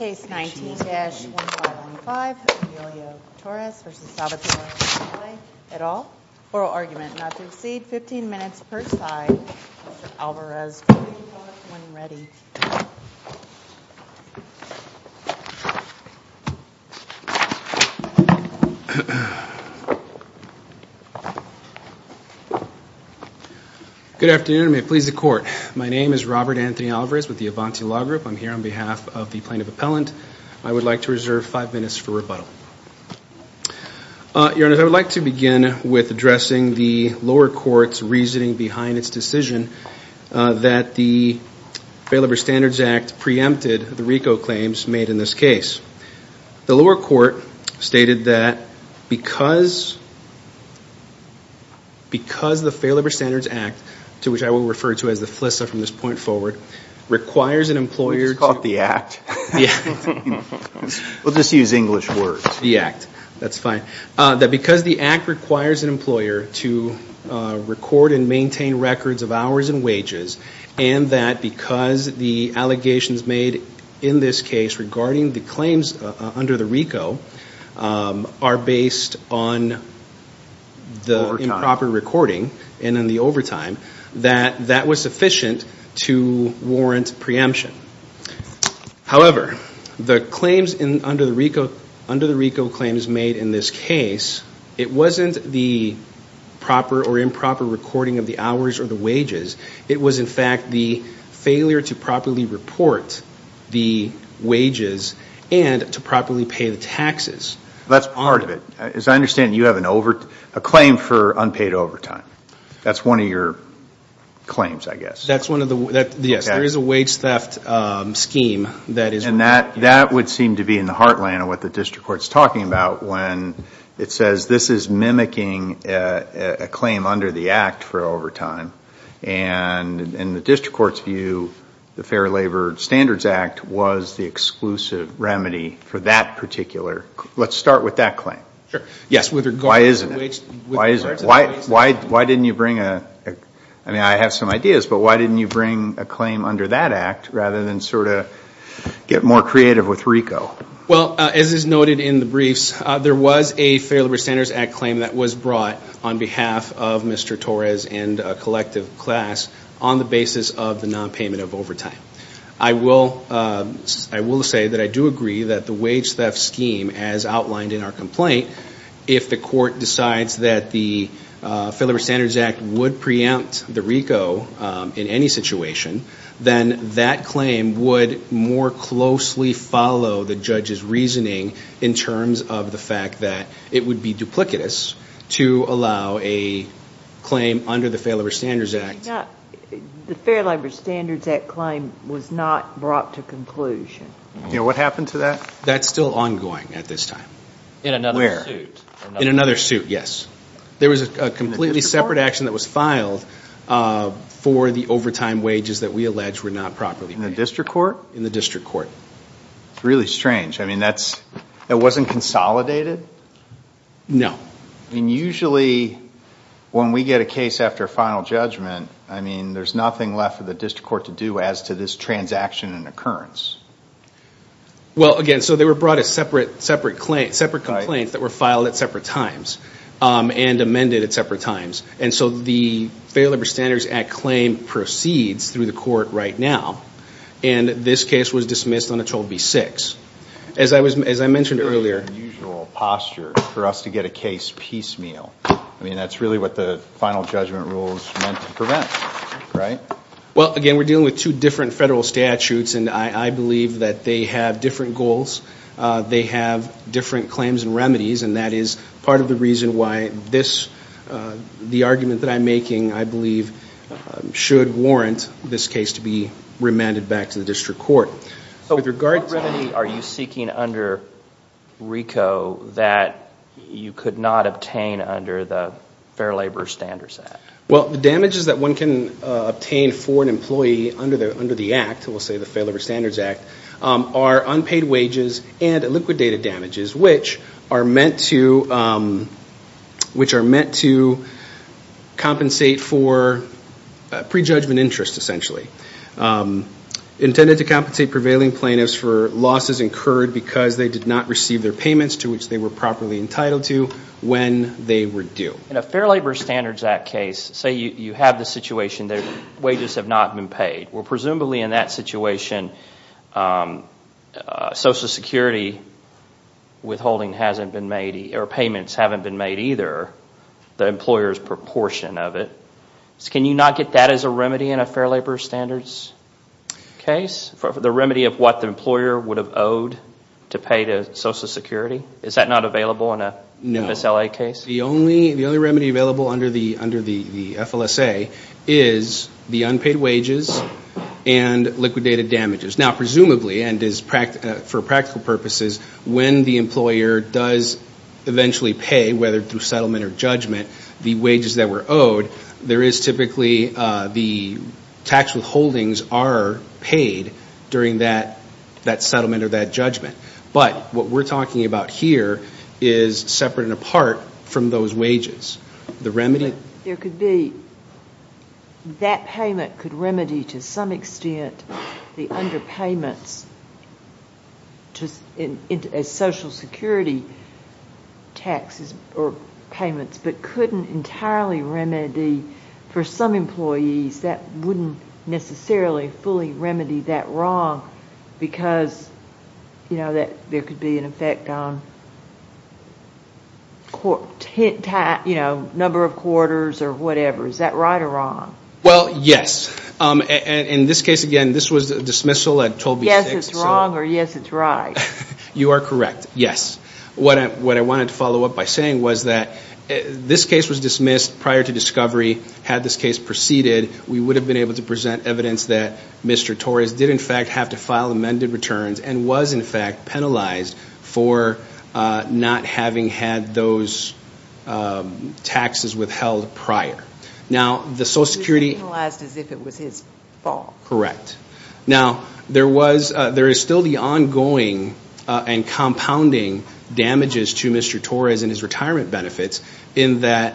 Case 19-1515, Emilio Torres v. Salvatore Vitale, et al. Oral Argument. Not to exceed 15 minutes per side. Mr. Alvarez, please report when ready. Good afternoon, and may it please the court. My name is Robert Anthony Alvarez with the Avanti Law Group. I'm here on behalf of the plaintiff appellant. I would like to reserve five minutes for rebuttal. Your Honor, I would like to begin with addressing the lower court's reasoning behind its decision that the Failover Standards Act preempted the RICO claims made in this case. The lower court stated that because the Failover Standards Act, to which I will refer to as the FLISA from this point forward, requires an employer to... That's fine. That because the act requires an employer to record and maintain records of hours and wages, and that because the allegations made in this case regarding the claims under the RICO are based on the improper recording and in the overtime, that that was sufficient to warrant preemption. However, the claims under the RICO claims made in this case, it wasn't the proper or improper recording of the hours or the wages. It was, in fact, the failure to properly report the wages and to properly pay the taxes. That's part of it. As I understand, you have a claim for unpaid overtime. That's one of your claims, I guess. Yes, there is a wage theft scheme that is... And that would seem to be in the heartland of what the district court's talking about when it says this is mimicking a claim under the act for overtime. And in the district court's view, the Fair Labor Standards Act was the exclusive remedy for that particular... Let's start with that claim. Why is it? Why didn't you bring a... I mean, I have some ideas, but why didn't you bring a claim under that act rather than sort of get more creative with RICO? Well, as is noted in the briefs, there was a Fair Labor Standards Act claim that was brought on behalf of Mr. Torres and a collective class on the basis of the nonpayment of overtime. I will say that I do agree that the wage theft scheme, as outlined in our complaint, if the court decides that the Fair Labor Standards Act would preempt the RICO in any situation, then that claim would more closely follow the judge's reasoning in terms of the fact that it would be duplicitous to allow a claim under the Fair Labor Standards Act. The Fair Labor Standards Act claim was not brought to conclusion. What happened to that? That's still ongoing at this time. In another suit? In another suit, yes. There was a completely separate action that was filed for the overtime wages that we allege were not properly paid. In the district court? In the district court. It's really strange. I mean, that wasn't consolidated? No. And usually when we get a case after final judgment, I mean, there's nothing left for the district court to do as to this transaction and occurrence. Well, again, so they were brought as separate complaints that were filed at separate times and amended at separate times. And so the Fair Labor Standards Act claim proceeds through the court right now, and this case was dismissed on a total of B6. As I mentioned earlier. Very unusual posture for us to get a case piecemeal. I mean, that's really what the final judgment rule is meant to prevent, right? Well, again, we're dealing with two different federal statutes, and I believe that they have different goals. They have different claims and remedies, and that is part of the reason why the argument that I'm making, I believe, should warrant this case to be remanded back to the district court. So what remedy are you seeking under RICO that you could not obtain under the Fair Labor Standards Act? Well, the damages that one can obtain for an employee under the act, we'll say the Fair Labor Standards Act, are unpaid wages and liquidated damages, which are meant to compensate for prejudgment interest, essentially. Intended to compensate prevailing plaintiffs for losses incurred because they did not receive their payments to which they were properly entitled to when they were due. In a Fair Labor Standards Act case, say you have the situation that wages have not been paid. Well, presumably in that situation, Social Security withholding hasn't been made, or payments haven't been made either, the employer's proportion of it. Can you not get that as a remedy in a Fair Labor Standards case? The remedy of what the employer would have owed to pay to Social Security? Is that not available in a MSLA case? No. The only remedy available under the FLSA is the unpaid wages and liquidated damages. Now, presumably, and for practical purposes, when the employer does eventually pay, whether through settlement or judgment, the wages that were owed, there is typically the tax withholdings are paid during that settlement or that judgment. But what we're talking about here is separate and apart from those wages. That payment could remedy to some extent the underpayments as Social Security taxes or payments, but couldn't entirely remedy for some employees that wouldn't necessarily fully remedy that wrong because there could be an effect on number of quarters or whatever. Is that right or wrong? Well, yes. In this case, again, this was a dismissal. Yes, it's wrong or yes, it's right. You are correct, yes. What I wanted to follow up by saying was that this case was dismissed prior to discovery. Had this case proceeded, we would have been able to present evidence that Mr. Torres did, in fact, have to file amended returns and was, in fact, penalized for not having had those taxes withheld prior. He was penalized as if it was his fault. Correct. Now, there is still the ongoing and compounding damages to Mr. Torres and his retirement benefits in that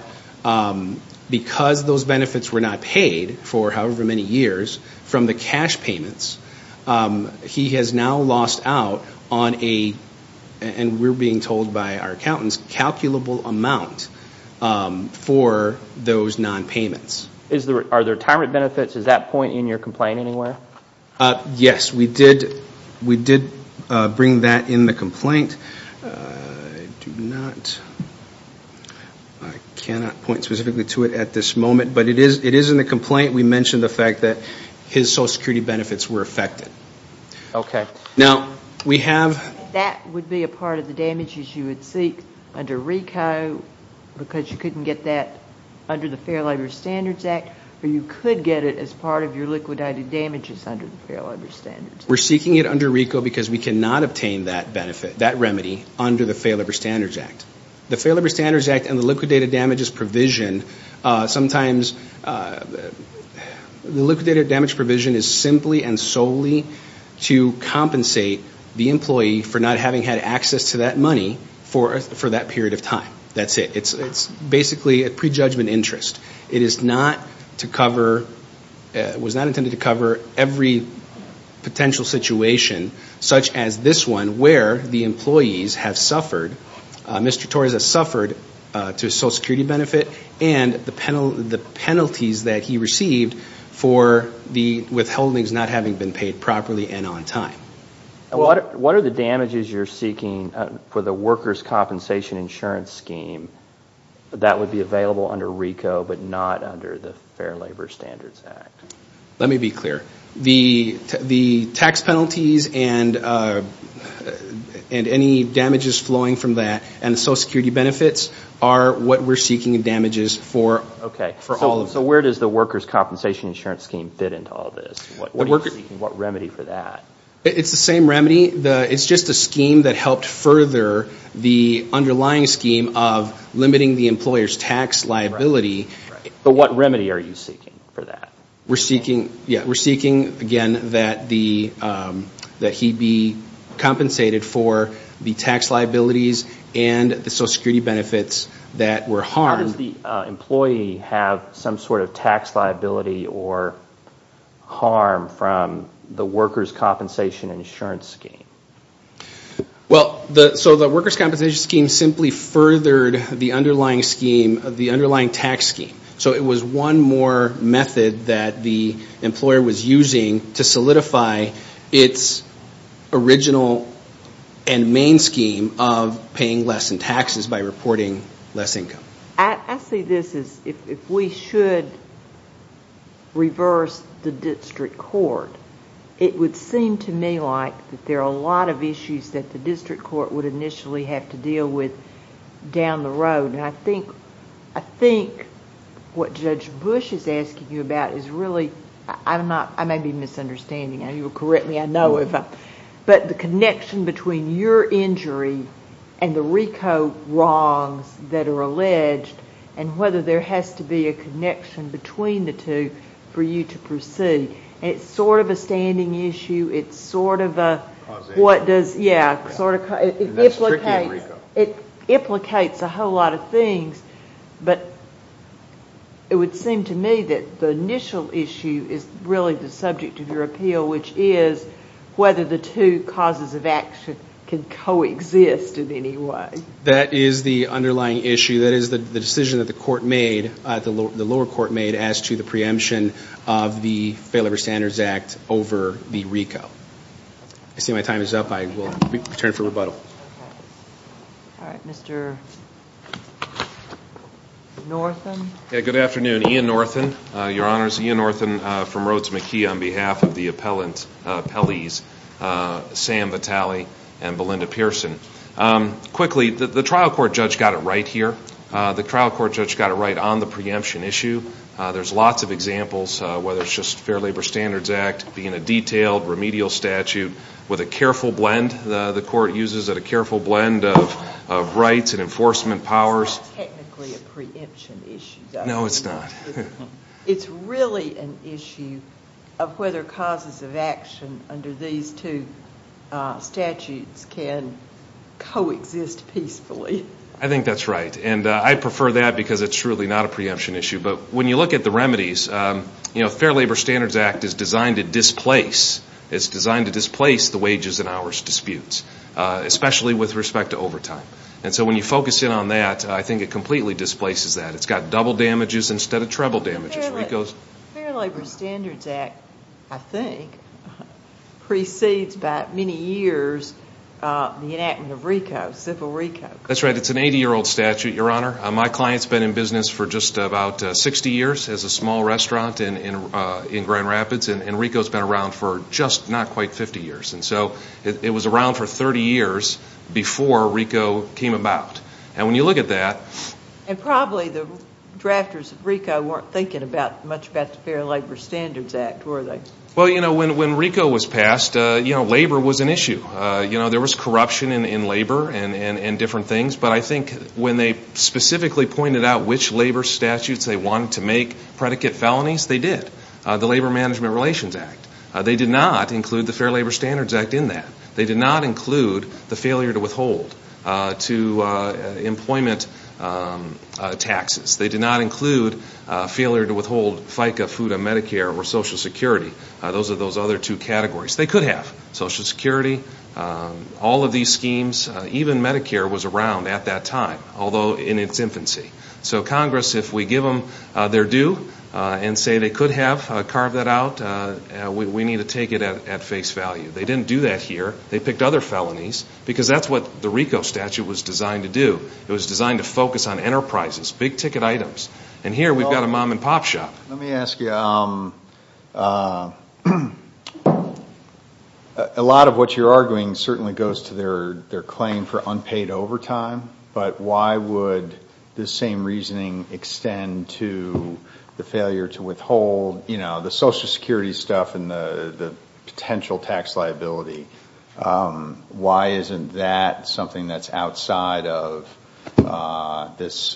because those benefits were not paid for however many years from the cash payments, he has now lost out on a, and we're being told by our accountants, calculable amount for those nonpayments. Are the retirement benefits at that point in your complaint anywhere? Yes, we did bring that in the complaint. I do not, I cannot point specifically to it at this moment, but it is in the complaint. We mentioned the fact that his Social Security benefits were affected. Okay. Now, we have. That would be a part of the damages you would seek under RICO because you couldn't get that under the Fair Labor Standards Act or you could get it as part of your liquidated damages under the Fair Labor Standards Act. We're seeking it under RICO because we cannot obtain that benefit, that remedy under the Fair Labor Standards Act. The Fair Labor Standards Act and the liquidated damages provision sometimes, the liquidated damages provision is simply and solely to compensate the employee for not having had access to that money for that period of time. That's it. It's basically a prejudgment interest. It is not to cover, was not intended to cover every potential situation such as this one where the employees have suffered, Mr. Torres has suffered to Social Security benefit and the penalties that he received for the withholdings not having been paid properly and on time. What are the damages you're seeking for the workers' compensation insurance scheme that would be available under RICO but not under the Fair Labor Standards Act? Let me be clear. The tax penalties and any damages flowing from that and Social Security benefits are what we're seeking in damages for all of them. Okay. So where does the workers' compensation insurance scheme fit into all of this? What remedy for that? It's the same remedy. It's just a scheme that helped further the underlying scheme of limiting the employer's tax liability. But what remedy are you seeking for that? We're seeking, again, that he be compensated for the tax liabilities and the Social Security benefits that were harmed. How does the employee have some sort of tax liability or harm from the workers' compensation insurance scheme? Well, so the workers' compensation scheme simply furthered the underlying tax scheme. So it was one more method that the employer was using to solidify its original and main scheme of paying less in taxes by reporting less income. I see this as if we should reverse the district court. It would seem to me like that there are a lot of issues that the district court would initially have to deal with down the road. I think what Judge Bush is asking you about is really... I may be misunderstanding. You will correct me, I know if I'm... but the connection between your injury and the RICO wrongs that are alleged and whether there has to be a connection between the two for you to proceed. It's sort of a standing issue. It's sort of a... Causation. Yeah. And that's tricky in RICO. It implicates a whole lot of things, but it would seem to me that the initial issue is really the subject of your appeal, which is whether the two causes of action can coexist in any way. That is the underlying issue. That is the decision that the lower court made as to the preemption of the Failover Standards Act over the RICO. I see my time is up. I will return for rebuttal. All right. Mr. Northen. Good afternoon. Ian Northen, Your Honors. Ian Northen from Rhodes McKee on behalf of the appellant appellees, Sam Vitale and Belinda Pearson. Quickly, the trial court judge got it right here. The trial court judge got it right on the preemption issue. There's lots of examples, whether it's just Fair Labor Standards Act being a detailed remedial statute with a careful blend. The court uses a careful blend of rights and enforcement powers. It's not technically a preemption issue, though. No, it's not. It's really an issue of whether causes of action under these two statutes can coexist peacefully. I think that's right. And I prefer that because it's truly not a preemption issue. But when you look at the remedies, you know, Fair Labor Standards Act is designed to displace. The wages and hours disputes, especially with respect to overtime. And so when you focus in on that, I think it completely displaces that. It's got double damages instead of treble damages. The Fair Labor Standards Act, I think, precedes by many years the enactment of RICO, civil RICO. That's right. It's an 80-year-old statute, Your Honor. My client's been in business for just about 60 years as a small restaurant in Grand Rapids. And RICO's been around for just not quite 50 years. And so it was around for 30 years before RICO came about. And when you look at that. And probably the drafters of RICO weren't thinking much about the Fair Labor Standards Act, were they? Well, you know, when RICO was passed, you know, labor was an issue. You know, there was corruption in labor and different things. But I think when they specifically pointed out which labor statutes they wanted to make predicate felonies, they did. The Labor Management Relations Act. They did not include the Fair Labor Standards Act in that. They did not include the failure to withhold to employment taxes. They did not include failure to withhold FICA, FUTA, Medicare, or Social Security. Those are those other two categories. They could have Social Security, all of these schemes. Even Medicare was around at that time, although in its infancy. So Congress, if we give them their due and say they could have carved that out, we need to take it at face value. They didn't do that here. They picked other felonies because that's what the RICO statute was designed to do. It was designed to focus on enterprises, big ticket items. And here we've got a mom and pop shop. Let me ask you, a lot of what you're arguing certainly goes to their claim for unpaid overtime. But why would the same reasoning extend to the failure to withhold, you know, the Social Security stuff and the potential tax liability? Why isn't that something that's outside of this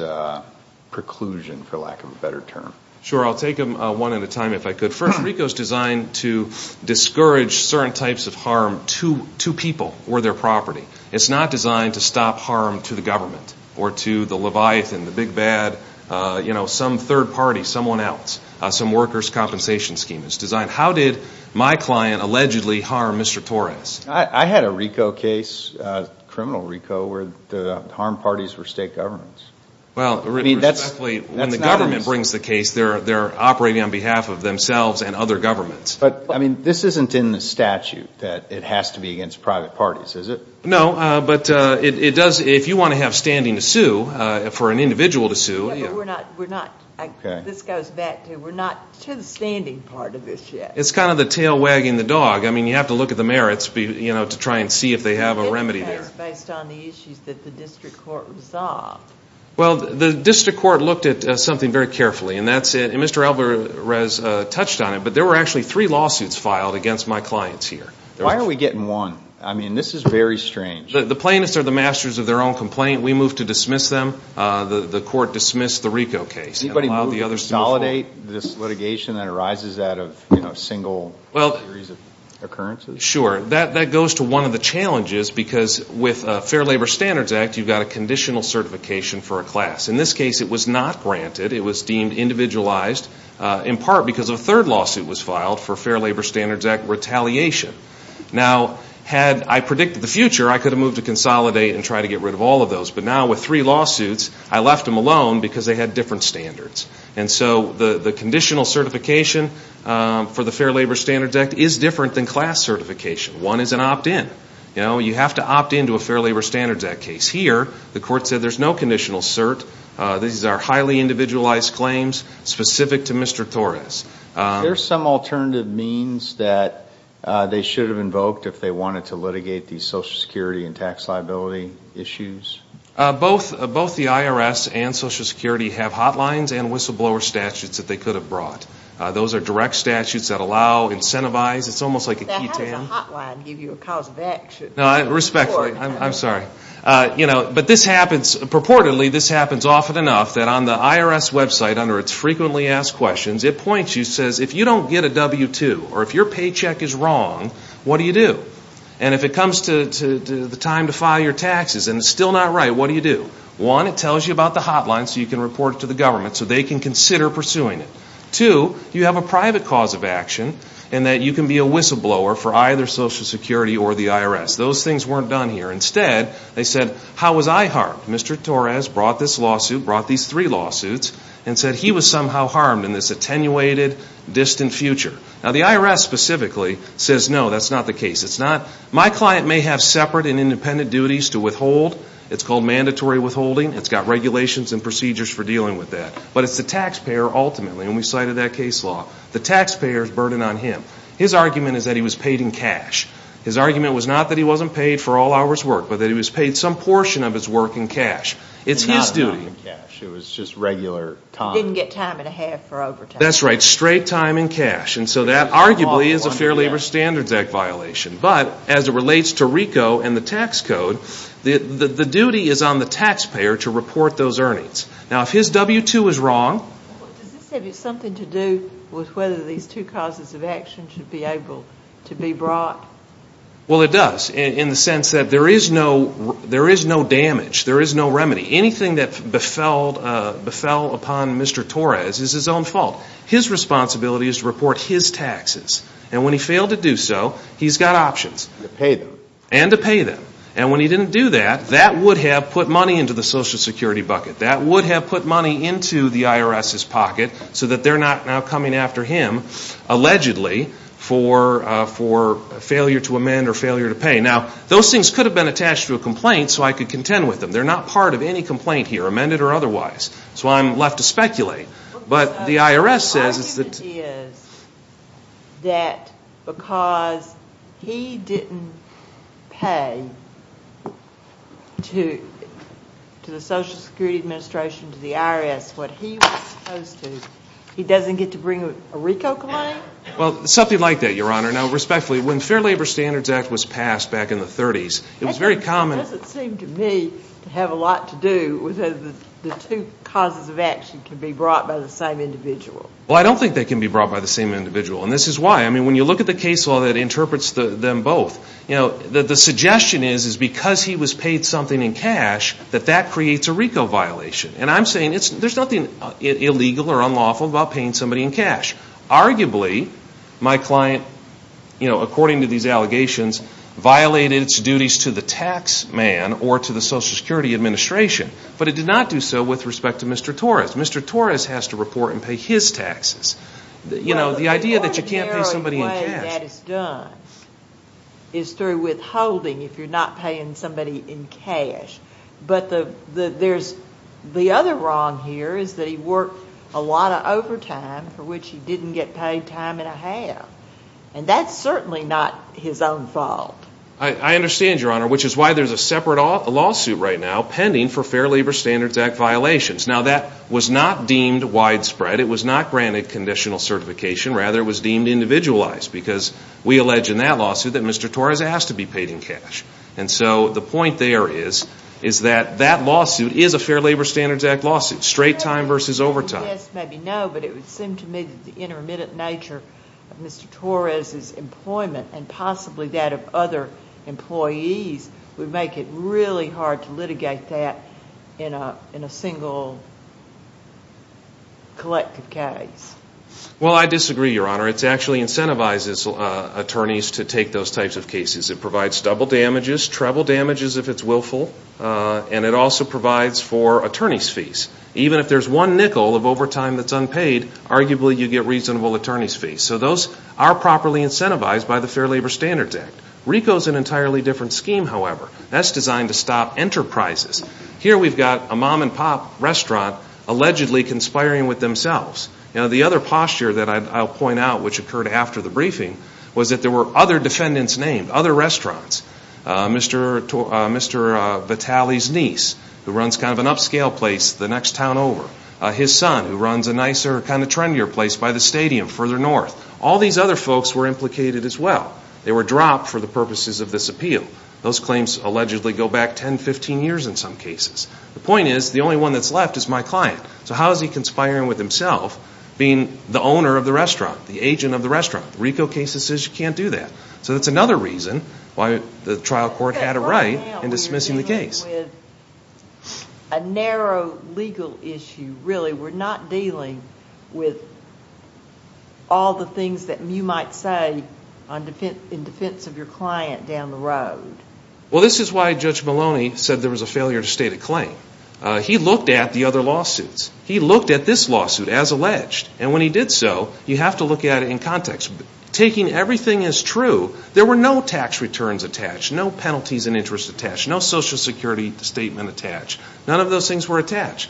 preclusion, for lack of a better term? Sure. I'll take them one at a time if I could. First, RICO is designed to discourage certain types of harm to people or their property. It's not designed to stop harm to the government or to the Leviathan, the big bad, you know, some third party, someone else, some workers' compensation scheme. It's designed, how did my client allegedly harm Mr. Torres? I had a RICO case, criminal RICO, where the harmed parties were state governments. Well, that's not a reason. When the government brings the case, they're operating on behalf of themselves and other governments. But, I mean, this isn't in the statute that it has to be against private parties, is it? No, but it does, if you want to have standing to sue, for an individual to sue. Yeah, but we're not, this goes back to, we're not to the standing part of this yet. It's kind of the tail wagging the dog. I mean, you have to look at the merits, you know, to try and see if they have a remedy there. It depends based on the issues that the district court resolved. Well, the district court looked at something very carefully, and that's it. And Mr. Alvarez touched on it, but there were actually three lawsuits filed against my clients here. Why are we getting one? I mean, this is very strange. The plaintiffs are the masters of their own complaint. We move to dismiss them. The court dismissed the RICO case. Anybody move to consolidate this litigation that arises out of, you know, single series of occurrences? Sure. That goes to one of the challenges, because with Fair Labor Standards Act, you've got a conditional certification for a class. In this case, it was not granted. It was deemed individualized, in part because a third lawsuit was filed for Fair Labor Standards Act retaliation. Now, had I predicted the future, I could have moved to consolidate and try to get rid of all of those. But now with three lawsuits, I left them alone because they had different standards. And so the conditional certification for the Fair Labor Standards Act is different than class certification. One is an opt-in. You know, you have to opt-in to a Fair Labor Standards Act case. Here, the court said there's no conditional cert. These are highly individualized claims specific to Mr. Torres. Is there some alternative means that they should have invoked if they wanted to litigate these Social Security and tax liability issues? Both the IRS and Social Security have hotlines and whistleblower statutes that they could have brought. Those are direct statutes that allow, incentivize. It's almost like a ketan. How does a hotline give you a cause of action? Respectfully. I'm sorry. But this happens. Purportedly, this happens often enough that on the IRS website, under its frequently asked questions, it points you and says, if you don't get a W-2 or if your paycheck is wrong, what do you do? And if it comes to the time to file your taxes and it's still not right, what do you do? One, it tells you about the hotline so you can report it to the government so they can consider pursuing it. Two, you have a private cause of action in that you can be a whistleblower for either Social Security or the IRS. Those things weren't done here. Instead, they said, how was I harmed? Mr. Torres brought this lawsuit, brought these three lawsuits, and said he was somehow harmed in this attenuated, distant future. Now, the IRS specifically says, no, that's not the case. It's not. My client may have separate and independent duties to withhold. It's called mandatory withholding. It's got regulations and procedures for dealing with that. But it's the taxpayer, ultimately, and we cited that case law. The taxpayer's burden on him. His argument is that he was paid in cash. His argument was not that he wasn't paid for all hours worked, but that he was paid some portion of his work in cash. It's his duty. Not a lot in cash. It was just regular time. Didn't get time and a half for overtime. That's right. Straight time in cash. And so that arguably is a Fair Labor Standards Act violation. But as it relates to RICO and the tax code, the duty is on the taxpayer to report those earnings. Now, if his W-2 is wrong. Does this have something to do with whether these two causes of action should be able to be brought? Well, it does in the sense that there is no damage. There is no remedy. Anything that befell upon Mr. Torres is his own fault. His responsibility is to report his taxes. And when he failed to do so, he's got options. And to pay them. And to pay them. And when he didn't do that, that would have put money into the Social Security bucket. That would have put money into the IRS's pocket so that they're not now coming after him, allegedly, for failure to amend or failure to pay. Now, those things could have been attached to a complaint so I could contend with them. They're not part of any complaint here, amended or otherwise. That's why I'm left to speculate. But the IRS says that because he didn't pay to the Social Security Administration, to the IRS, what he was supposed to, he doesn't get to bring a RICO claim? Well, something like that, Your Honor. Now, respectfully, when the Fair Labor Standards Act was passed back in the 30s, it was very common. It doesn't seem to me to have a lot to do with the two causes of action can be brought by the same individual. Well, I don't think they can be brought by the same individual. And this is why. I mean, when you look at the case law that interprets them both, you know, the suggestion is because he was paid something in cash that that creates a RICO violation. And I'm saying there's nothing illegal or unlawful about paying somebody in cash. Arguably, my client, you know, according to these allegations, violated its duties to the tax man or to the Social Security Administration. But it did not do so with respect to Mr. Torres. Mr. Torres has to report and pay his taxes. You know, the idea that you can't pay somebody in cash. Well, the ordinarily way that it's done is through withholding if you're not paying somebody in cash. But there's the other wrong here is that he worked a lot of overtime for which he didn't get paid time and a half. And that's certainly not his own fault. I understand, Your Honor, which is why there's a separate lawsuit right now pending for Fair Labor Standards Act violations. Now, that was not deemed widespread. It was not granted conditional certification. Rather, it was deemed individualized because we allege in that lawsuit that Mr. Torres has to be paid in cash. And so the point there is that that lawsuit is a Fair Labor Standards Act lawsuit. Straight time versus overtime. Yes, maybe no, but it would seem to me that the intermittent nature of Mr. Torres' employment and possibly that of other employees would make it really hard to litigate that in a single collective case. Well, I disagree, Your Honor. It provides double damages, treble damages if it's willful, and it also provides for attorney's fees. Even if there's one nickel of overtime that's unpaid, arguably you get reasonable attorney's fees. So those are properly incentivized by the Fair Labor Standards Act. RICO is an entirely different scheme, however. That's designed to stop enterprises. Here we've got a mom-and-pop restaurant allegedly conspiring with themselves. You know, the other posture that I'll point out, which occurred after the briefing, was that there were other defendants named, other restaurants. Mr. Vitale's niece, who runs kind of an upscale place the next town over. His son, who runs a nicer, kind of trendier place by the stadium further north. All these other folks were implicated as well. They were dropped for the purposes of this appeal. Those claims allegedly go back 10, 15 years in some cases. The point is the only one that's left is my client. So how is he conspiring with himself, being the owner of the restaurant, the agent of the restaurant? The RICO case says you can't do that. So that's another reason why the trial court had a right in dismissing the case. A narrow legal issue, really. We're not dealing with all the things that you might say in defense of your client down the road. Well, this is why Judge Maloney said there was a failure to state a claim. He looked at the other lawsuits. He looked at this lawsuit as alleged. And when he did so, you have to look at it in context. Taking everything as true, there were no tax returns attached, no penalties and interest attached, no Social Security statement attached. None of those things were attached.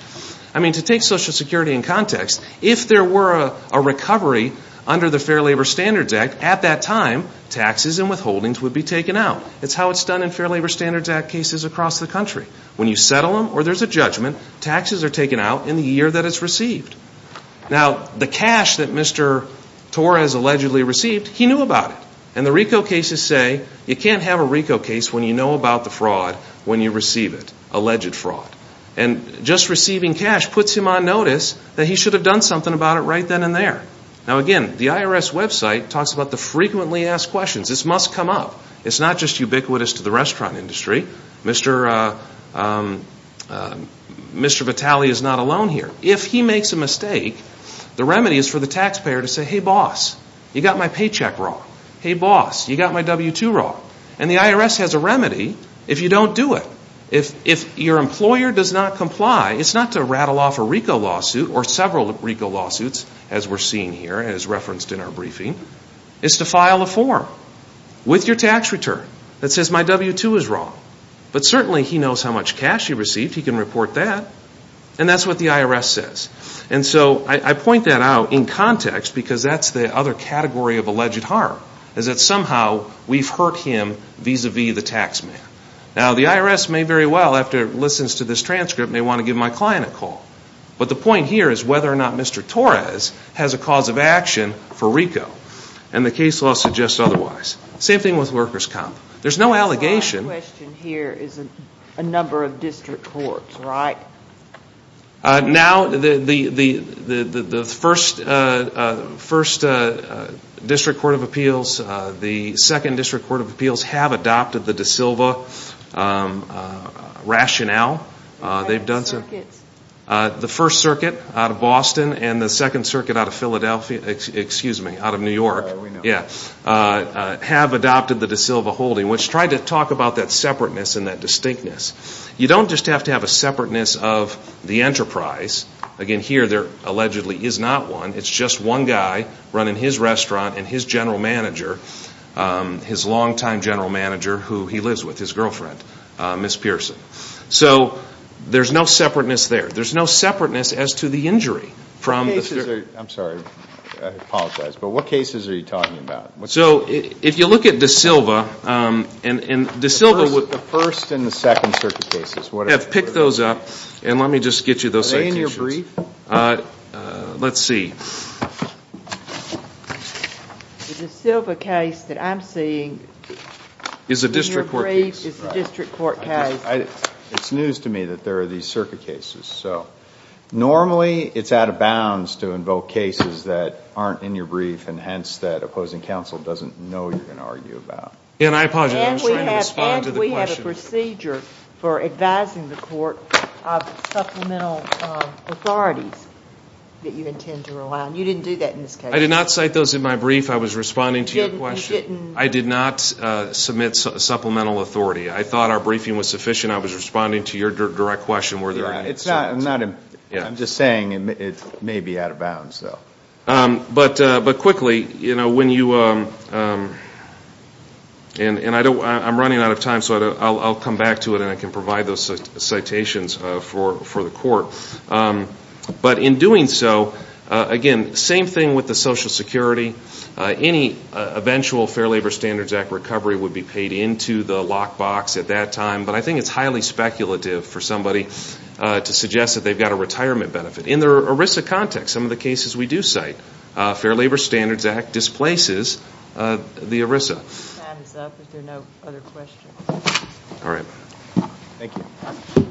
I mean, to take Social Security in context, if there were a recovery under the Fair Labor Standards Act, at that time, taxes and withholdings would be taken out. That's how it's done in Fair Labor Standards Act cases across the country. When you settle them or there's a judgment, taxes are taken out in the year that it's received. Now, the cash that Mr. Torres allegedly received, he knew about it. And the RICO cases say you can't have a RICO case when you know about the fraud when you receive it, alleged fraud. And just receiving cash puts him on notice that he should have done something about it right then and there. Now, again, the IRS website talks about the frequently asked questions. This must come up. It's not just ubiquitous to the restaurant industry. Mr. Vitale is not alone here. If he makes a mistake, the remedy is for the taxpayer to say, hey, boss, you got my paycheck wrong. Hey, boss, you got my W-2 wrong. And the IRS has a remedy if you don't do it. If your employer does not comply, it's not to rattle off a RICO lawsuit or several RICO lawsuits, as we're seeing here and as referenced in our briefing. It's to file a form with your tax return that says my W-2 is wrong. But certainly he knows how much cash he received. He can report that. And that's what the IRS says. And so I point that out in context because that's the other category of alleged harm, is that somehow we've hurt him vis-a-vis the tax man. Now, the IRS may very well, after it listens to this transcript, may want to give my client a call. But the point here is whether or not Mr. Torres has a cause of action for RICO. And the case law suggests otherwise. Same thing with workers' comp. There's no allegation. The last question here is a number of district courts, right? Now, the first district court of appeals, the second district court of appeals have adopted the De Silva rationale. The first circuit out of Boston and the second circuit out of Philadelphia, excuse me, out of New York, have adopted the De Silva holding, which tried to talk about that separateness and that distinctness. You don't just have to have a separateness of the enterprise. Again, here there allegedly is not one. It's just one guy running his restaurant and his general manager, his longtime general manager, who he lives with, his girlfriend, Ms. Pearson. So there's no separateness there. There's no separateness as to the injury. I'm sorry. I apologize. But what cases are you talking about? So if you look at De Silva, and De Silva would have picked those up. And let me just get you those citations. Are they in your brief? Let's see. The De Silva case that I'm seeing in your brief is the district court case. It's news to me that there are these circuit cases. So normally it's out of bounds to invoke cases that aren't in your brief and hence that opposing counsel doesn't know you're going to argue about. And we have a procedure for advising the court of supplemental authorities that you intend to rely on. You didn't do that in this case. I did not cite those in my brief. I was responding to your question. I did not submit supplemental authority. I thought our briefing was sufficient. I was responding to your direct question. I'm just saying it may be out of bounds. But quickly, when you – and I'm running out of time, so I'll come back to it and I can provide those citations for the court. But in doing so, again, same thing with the Social Security. Any eventual Fair Labor Standards Act recovery would be paid into the lockbox at that time. But I think it's highly speculative for somebody to suggest that they've got a retirement benefit. In the ERISA context, some of the cases we do cite, Fair Labor Standards Act displaces the ERISA. Time is up. Is there no other questions? Thank you.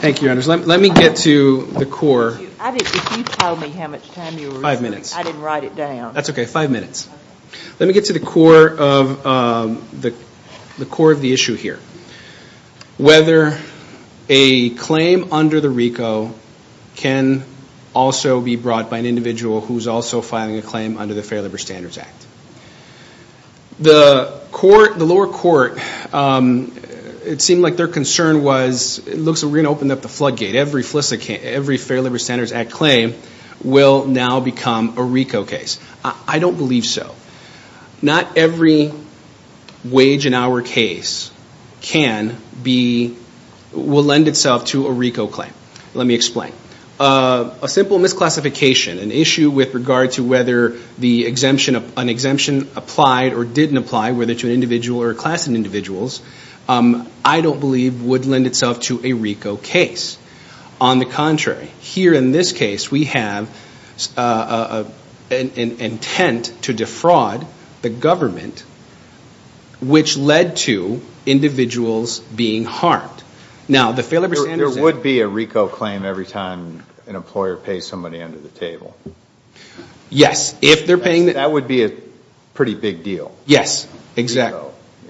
Thank you, Your Honors. Let me get to the core. If you told me how much time you were – Five minutes. I didn't write it down. That's okay, five minutes. Let me get to the core of the issue here, whether a claim under the RICO can also be brought by an individual who is also filing a claim under the Fair Labor Standards Act. The lower court, it seemed like their concern was, it looks like we're going to open up the floodgate. Every Fair Labor Standards Act claim will now become a RICO case. I don't believe so. Not every wage in our case will lend itself to a RICO claim. Let me explain. A simple misclassification, an issue with regard to whether an exemption applied or didn't apply, whether to an individual or a class of individuals, I don't believe would lend itself to a RICO case. On the contrary, here in this case, we have an intent to defraud the government, which led to individuals being harmed. There would be a RICO claim every time an employer pays somebody under the table. Yes, if they're paying – That would be a pretty big deal. Yes, exactly.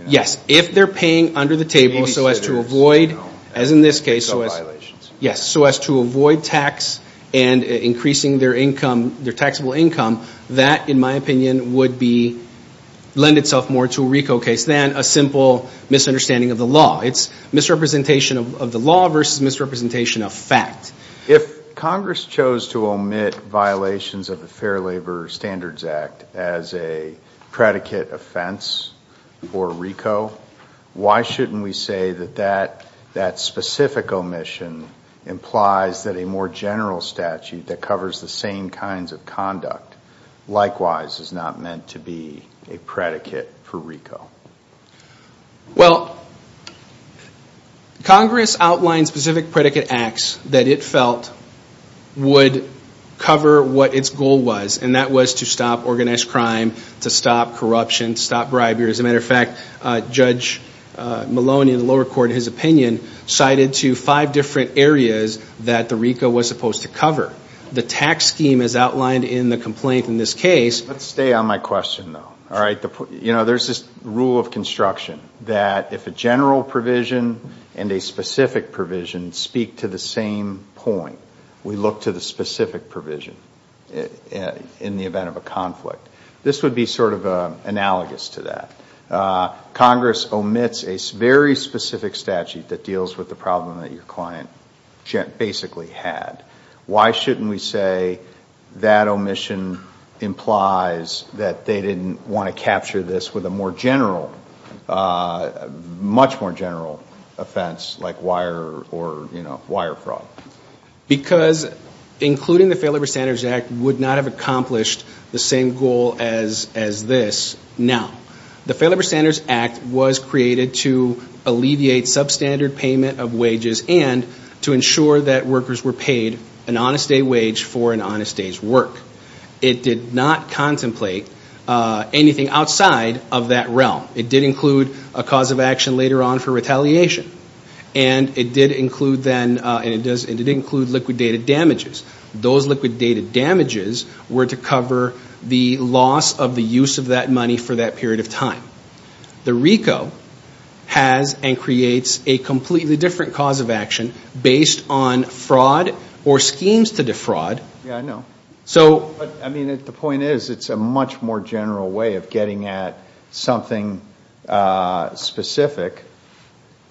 Yes, if they're paying under the table so as to avoid, as in this case – Sub-violations. Yes, so as to avoid tax and increasing their income, their taxable income, that, in my opinion, would lend itself more to a RICO case than a simple misunderstanding of the law. It's misrepresentation of the law versus misrepresentation of fact. If Congress chose to omit violations of the Fair Labor Standards Act as a predicate offense for RICO, why shouldn't we say that that specific omission implies that a more general statute that covers the same kinds of conduct likewise is not meant to be a predicate for RICO? Well, Congress outlined specific predicate acts that it felt would cover what its goal was, and that was to stop organized crime, to stop corruption, to stop bribery. As a matter of fact, Judge Maloney in the lower court, in his opinion, cited to five different areas that the RICO was supposed to cover. The tax scheme, as outlined in the complaint in this case – Let's stay on my question, though. There's this rule of construction that if a general provision and a specific provision speak to the same point, we look to the specific provision in the event of a conflict. This would be sort of analogous to that. Congress omits a very specific statute that deals with the problem that your client basically had. Why shouldn't we say that omission implies that they didn't want to capture this with a much more general offense, like wire or wire fraud? Because including the Fair Labor Standards Act would not have accomplished the same goal as this now. The Fair Labor Standards Act was created to alleviate substandard payment of wages and to ensure that workers were paid an honest day wage for an honest day's work. It did not contemplate anything outside of that realm. It did include a cause of action later on for retaliation, and it did include liquidated damages. Those liquidated damages were to cover the loss of the use of that money for that period of time. The RICO has and creates a completely different cause of action based on fraud or schemes to defraud. Yeah, I know. I mean, the point is it's a much more general way of getting at something specific,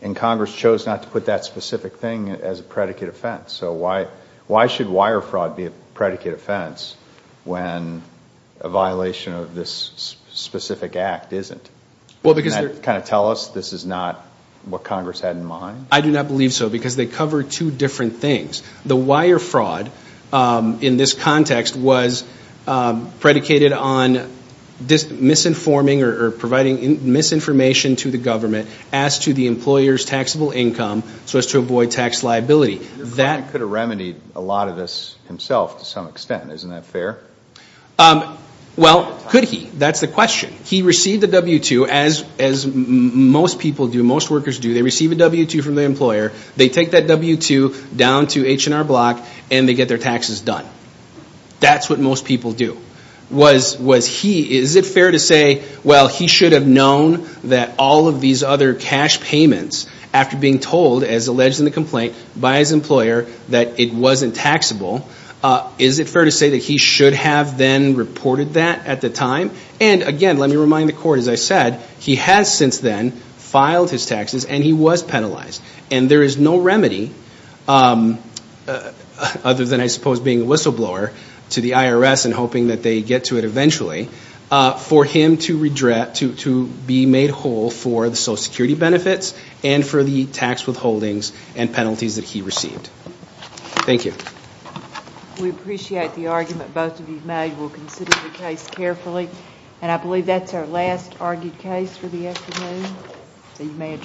and Congress chose not to put that specific thing as a predicate offense. So why should wire fraud be a predicate offense when a violation of this specific act isn't? Doesn't that kind of tell us this is not what Congress had in mind? I do not believe so because they cover two different things. The wire fraud in this context was predicated on misinforming or providing misinformation to the government as to the employer's taxable income so as to avoid tax liability. Your client could have remedied a lot of this himself to some extent. Isn't that fair? Well, could he? That's the question. He received the W-2, as most people do, most workers do. They receive a W-2 from the employer. They take that W-2 down to H&R Block, and they get their taxes done. That's what most people do. Is it fair to say, well, he should have known that all of these other cash payments, after being told, as alleged in the complaint, by his employer that it wasn't taxable, is it fair to say that he should have then reported that at the time? And again, let me remind the court, as I said, he has since then filed his taxes, and he was penalized. And there is no remedy, other than I suppose being a whistleblower to the IRS and hoping that they get to it eventually, for him to be made whole for the Social Security benefits and for the tax withholdings and penalties that he received. Thank you. We appreciate the argument both of you made. We'll consider the case carefully. And I believe that's our last argued case for the afternoon.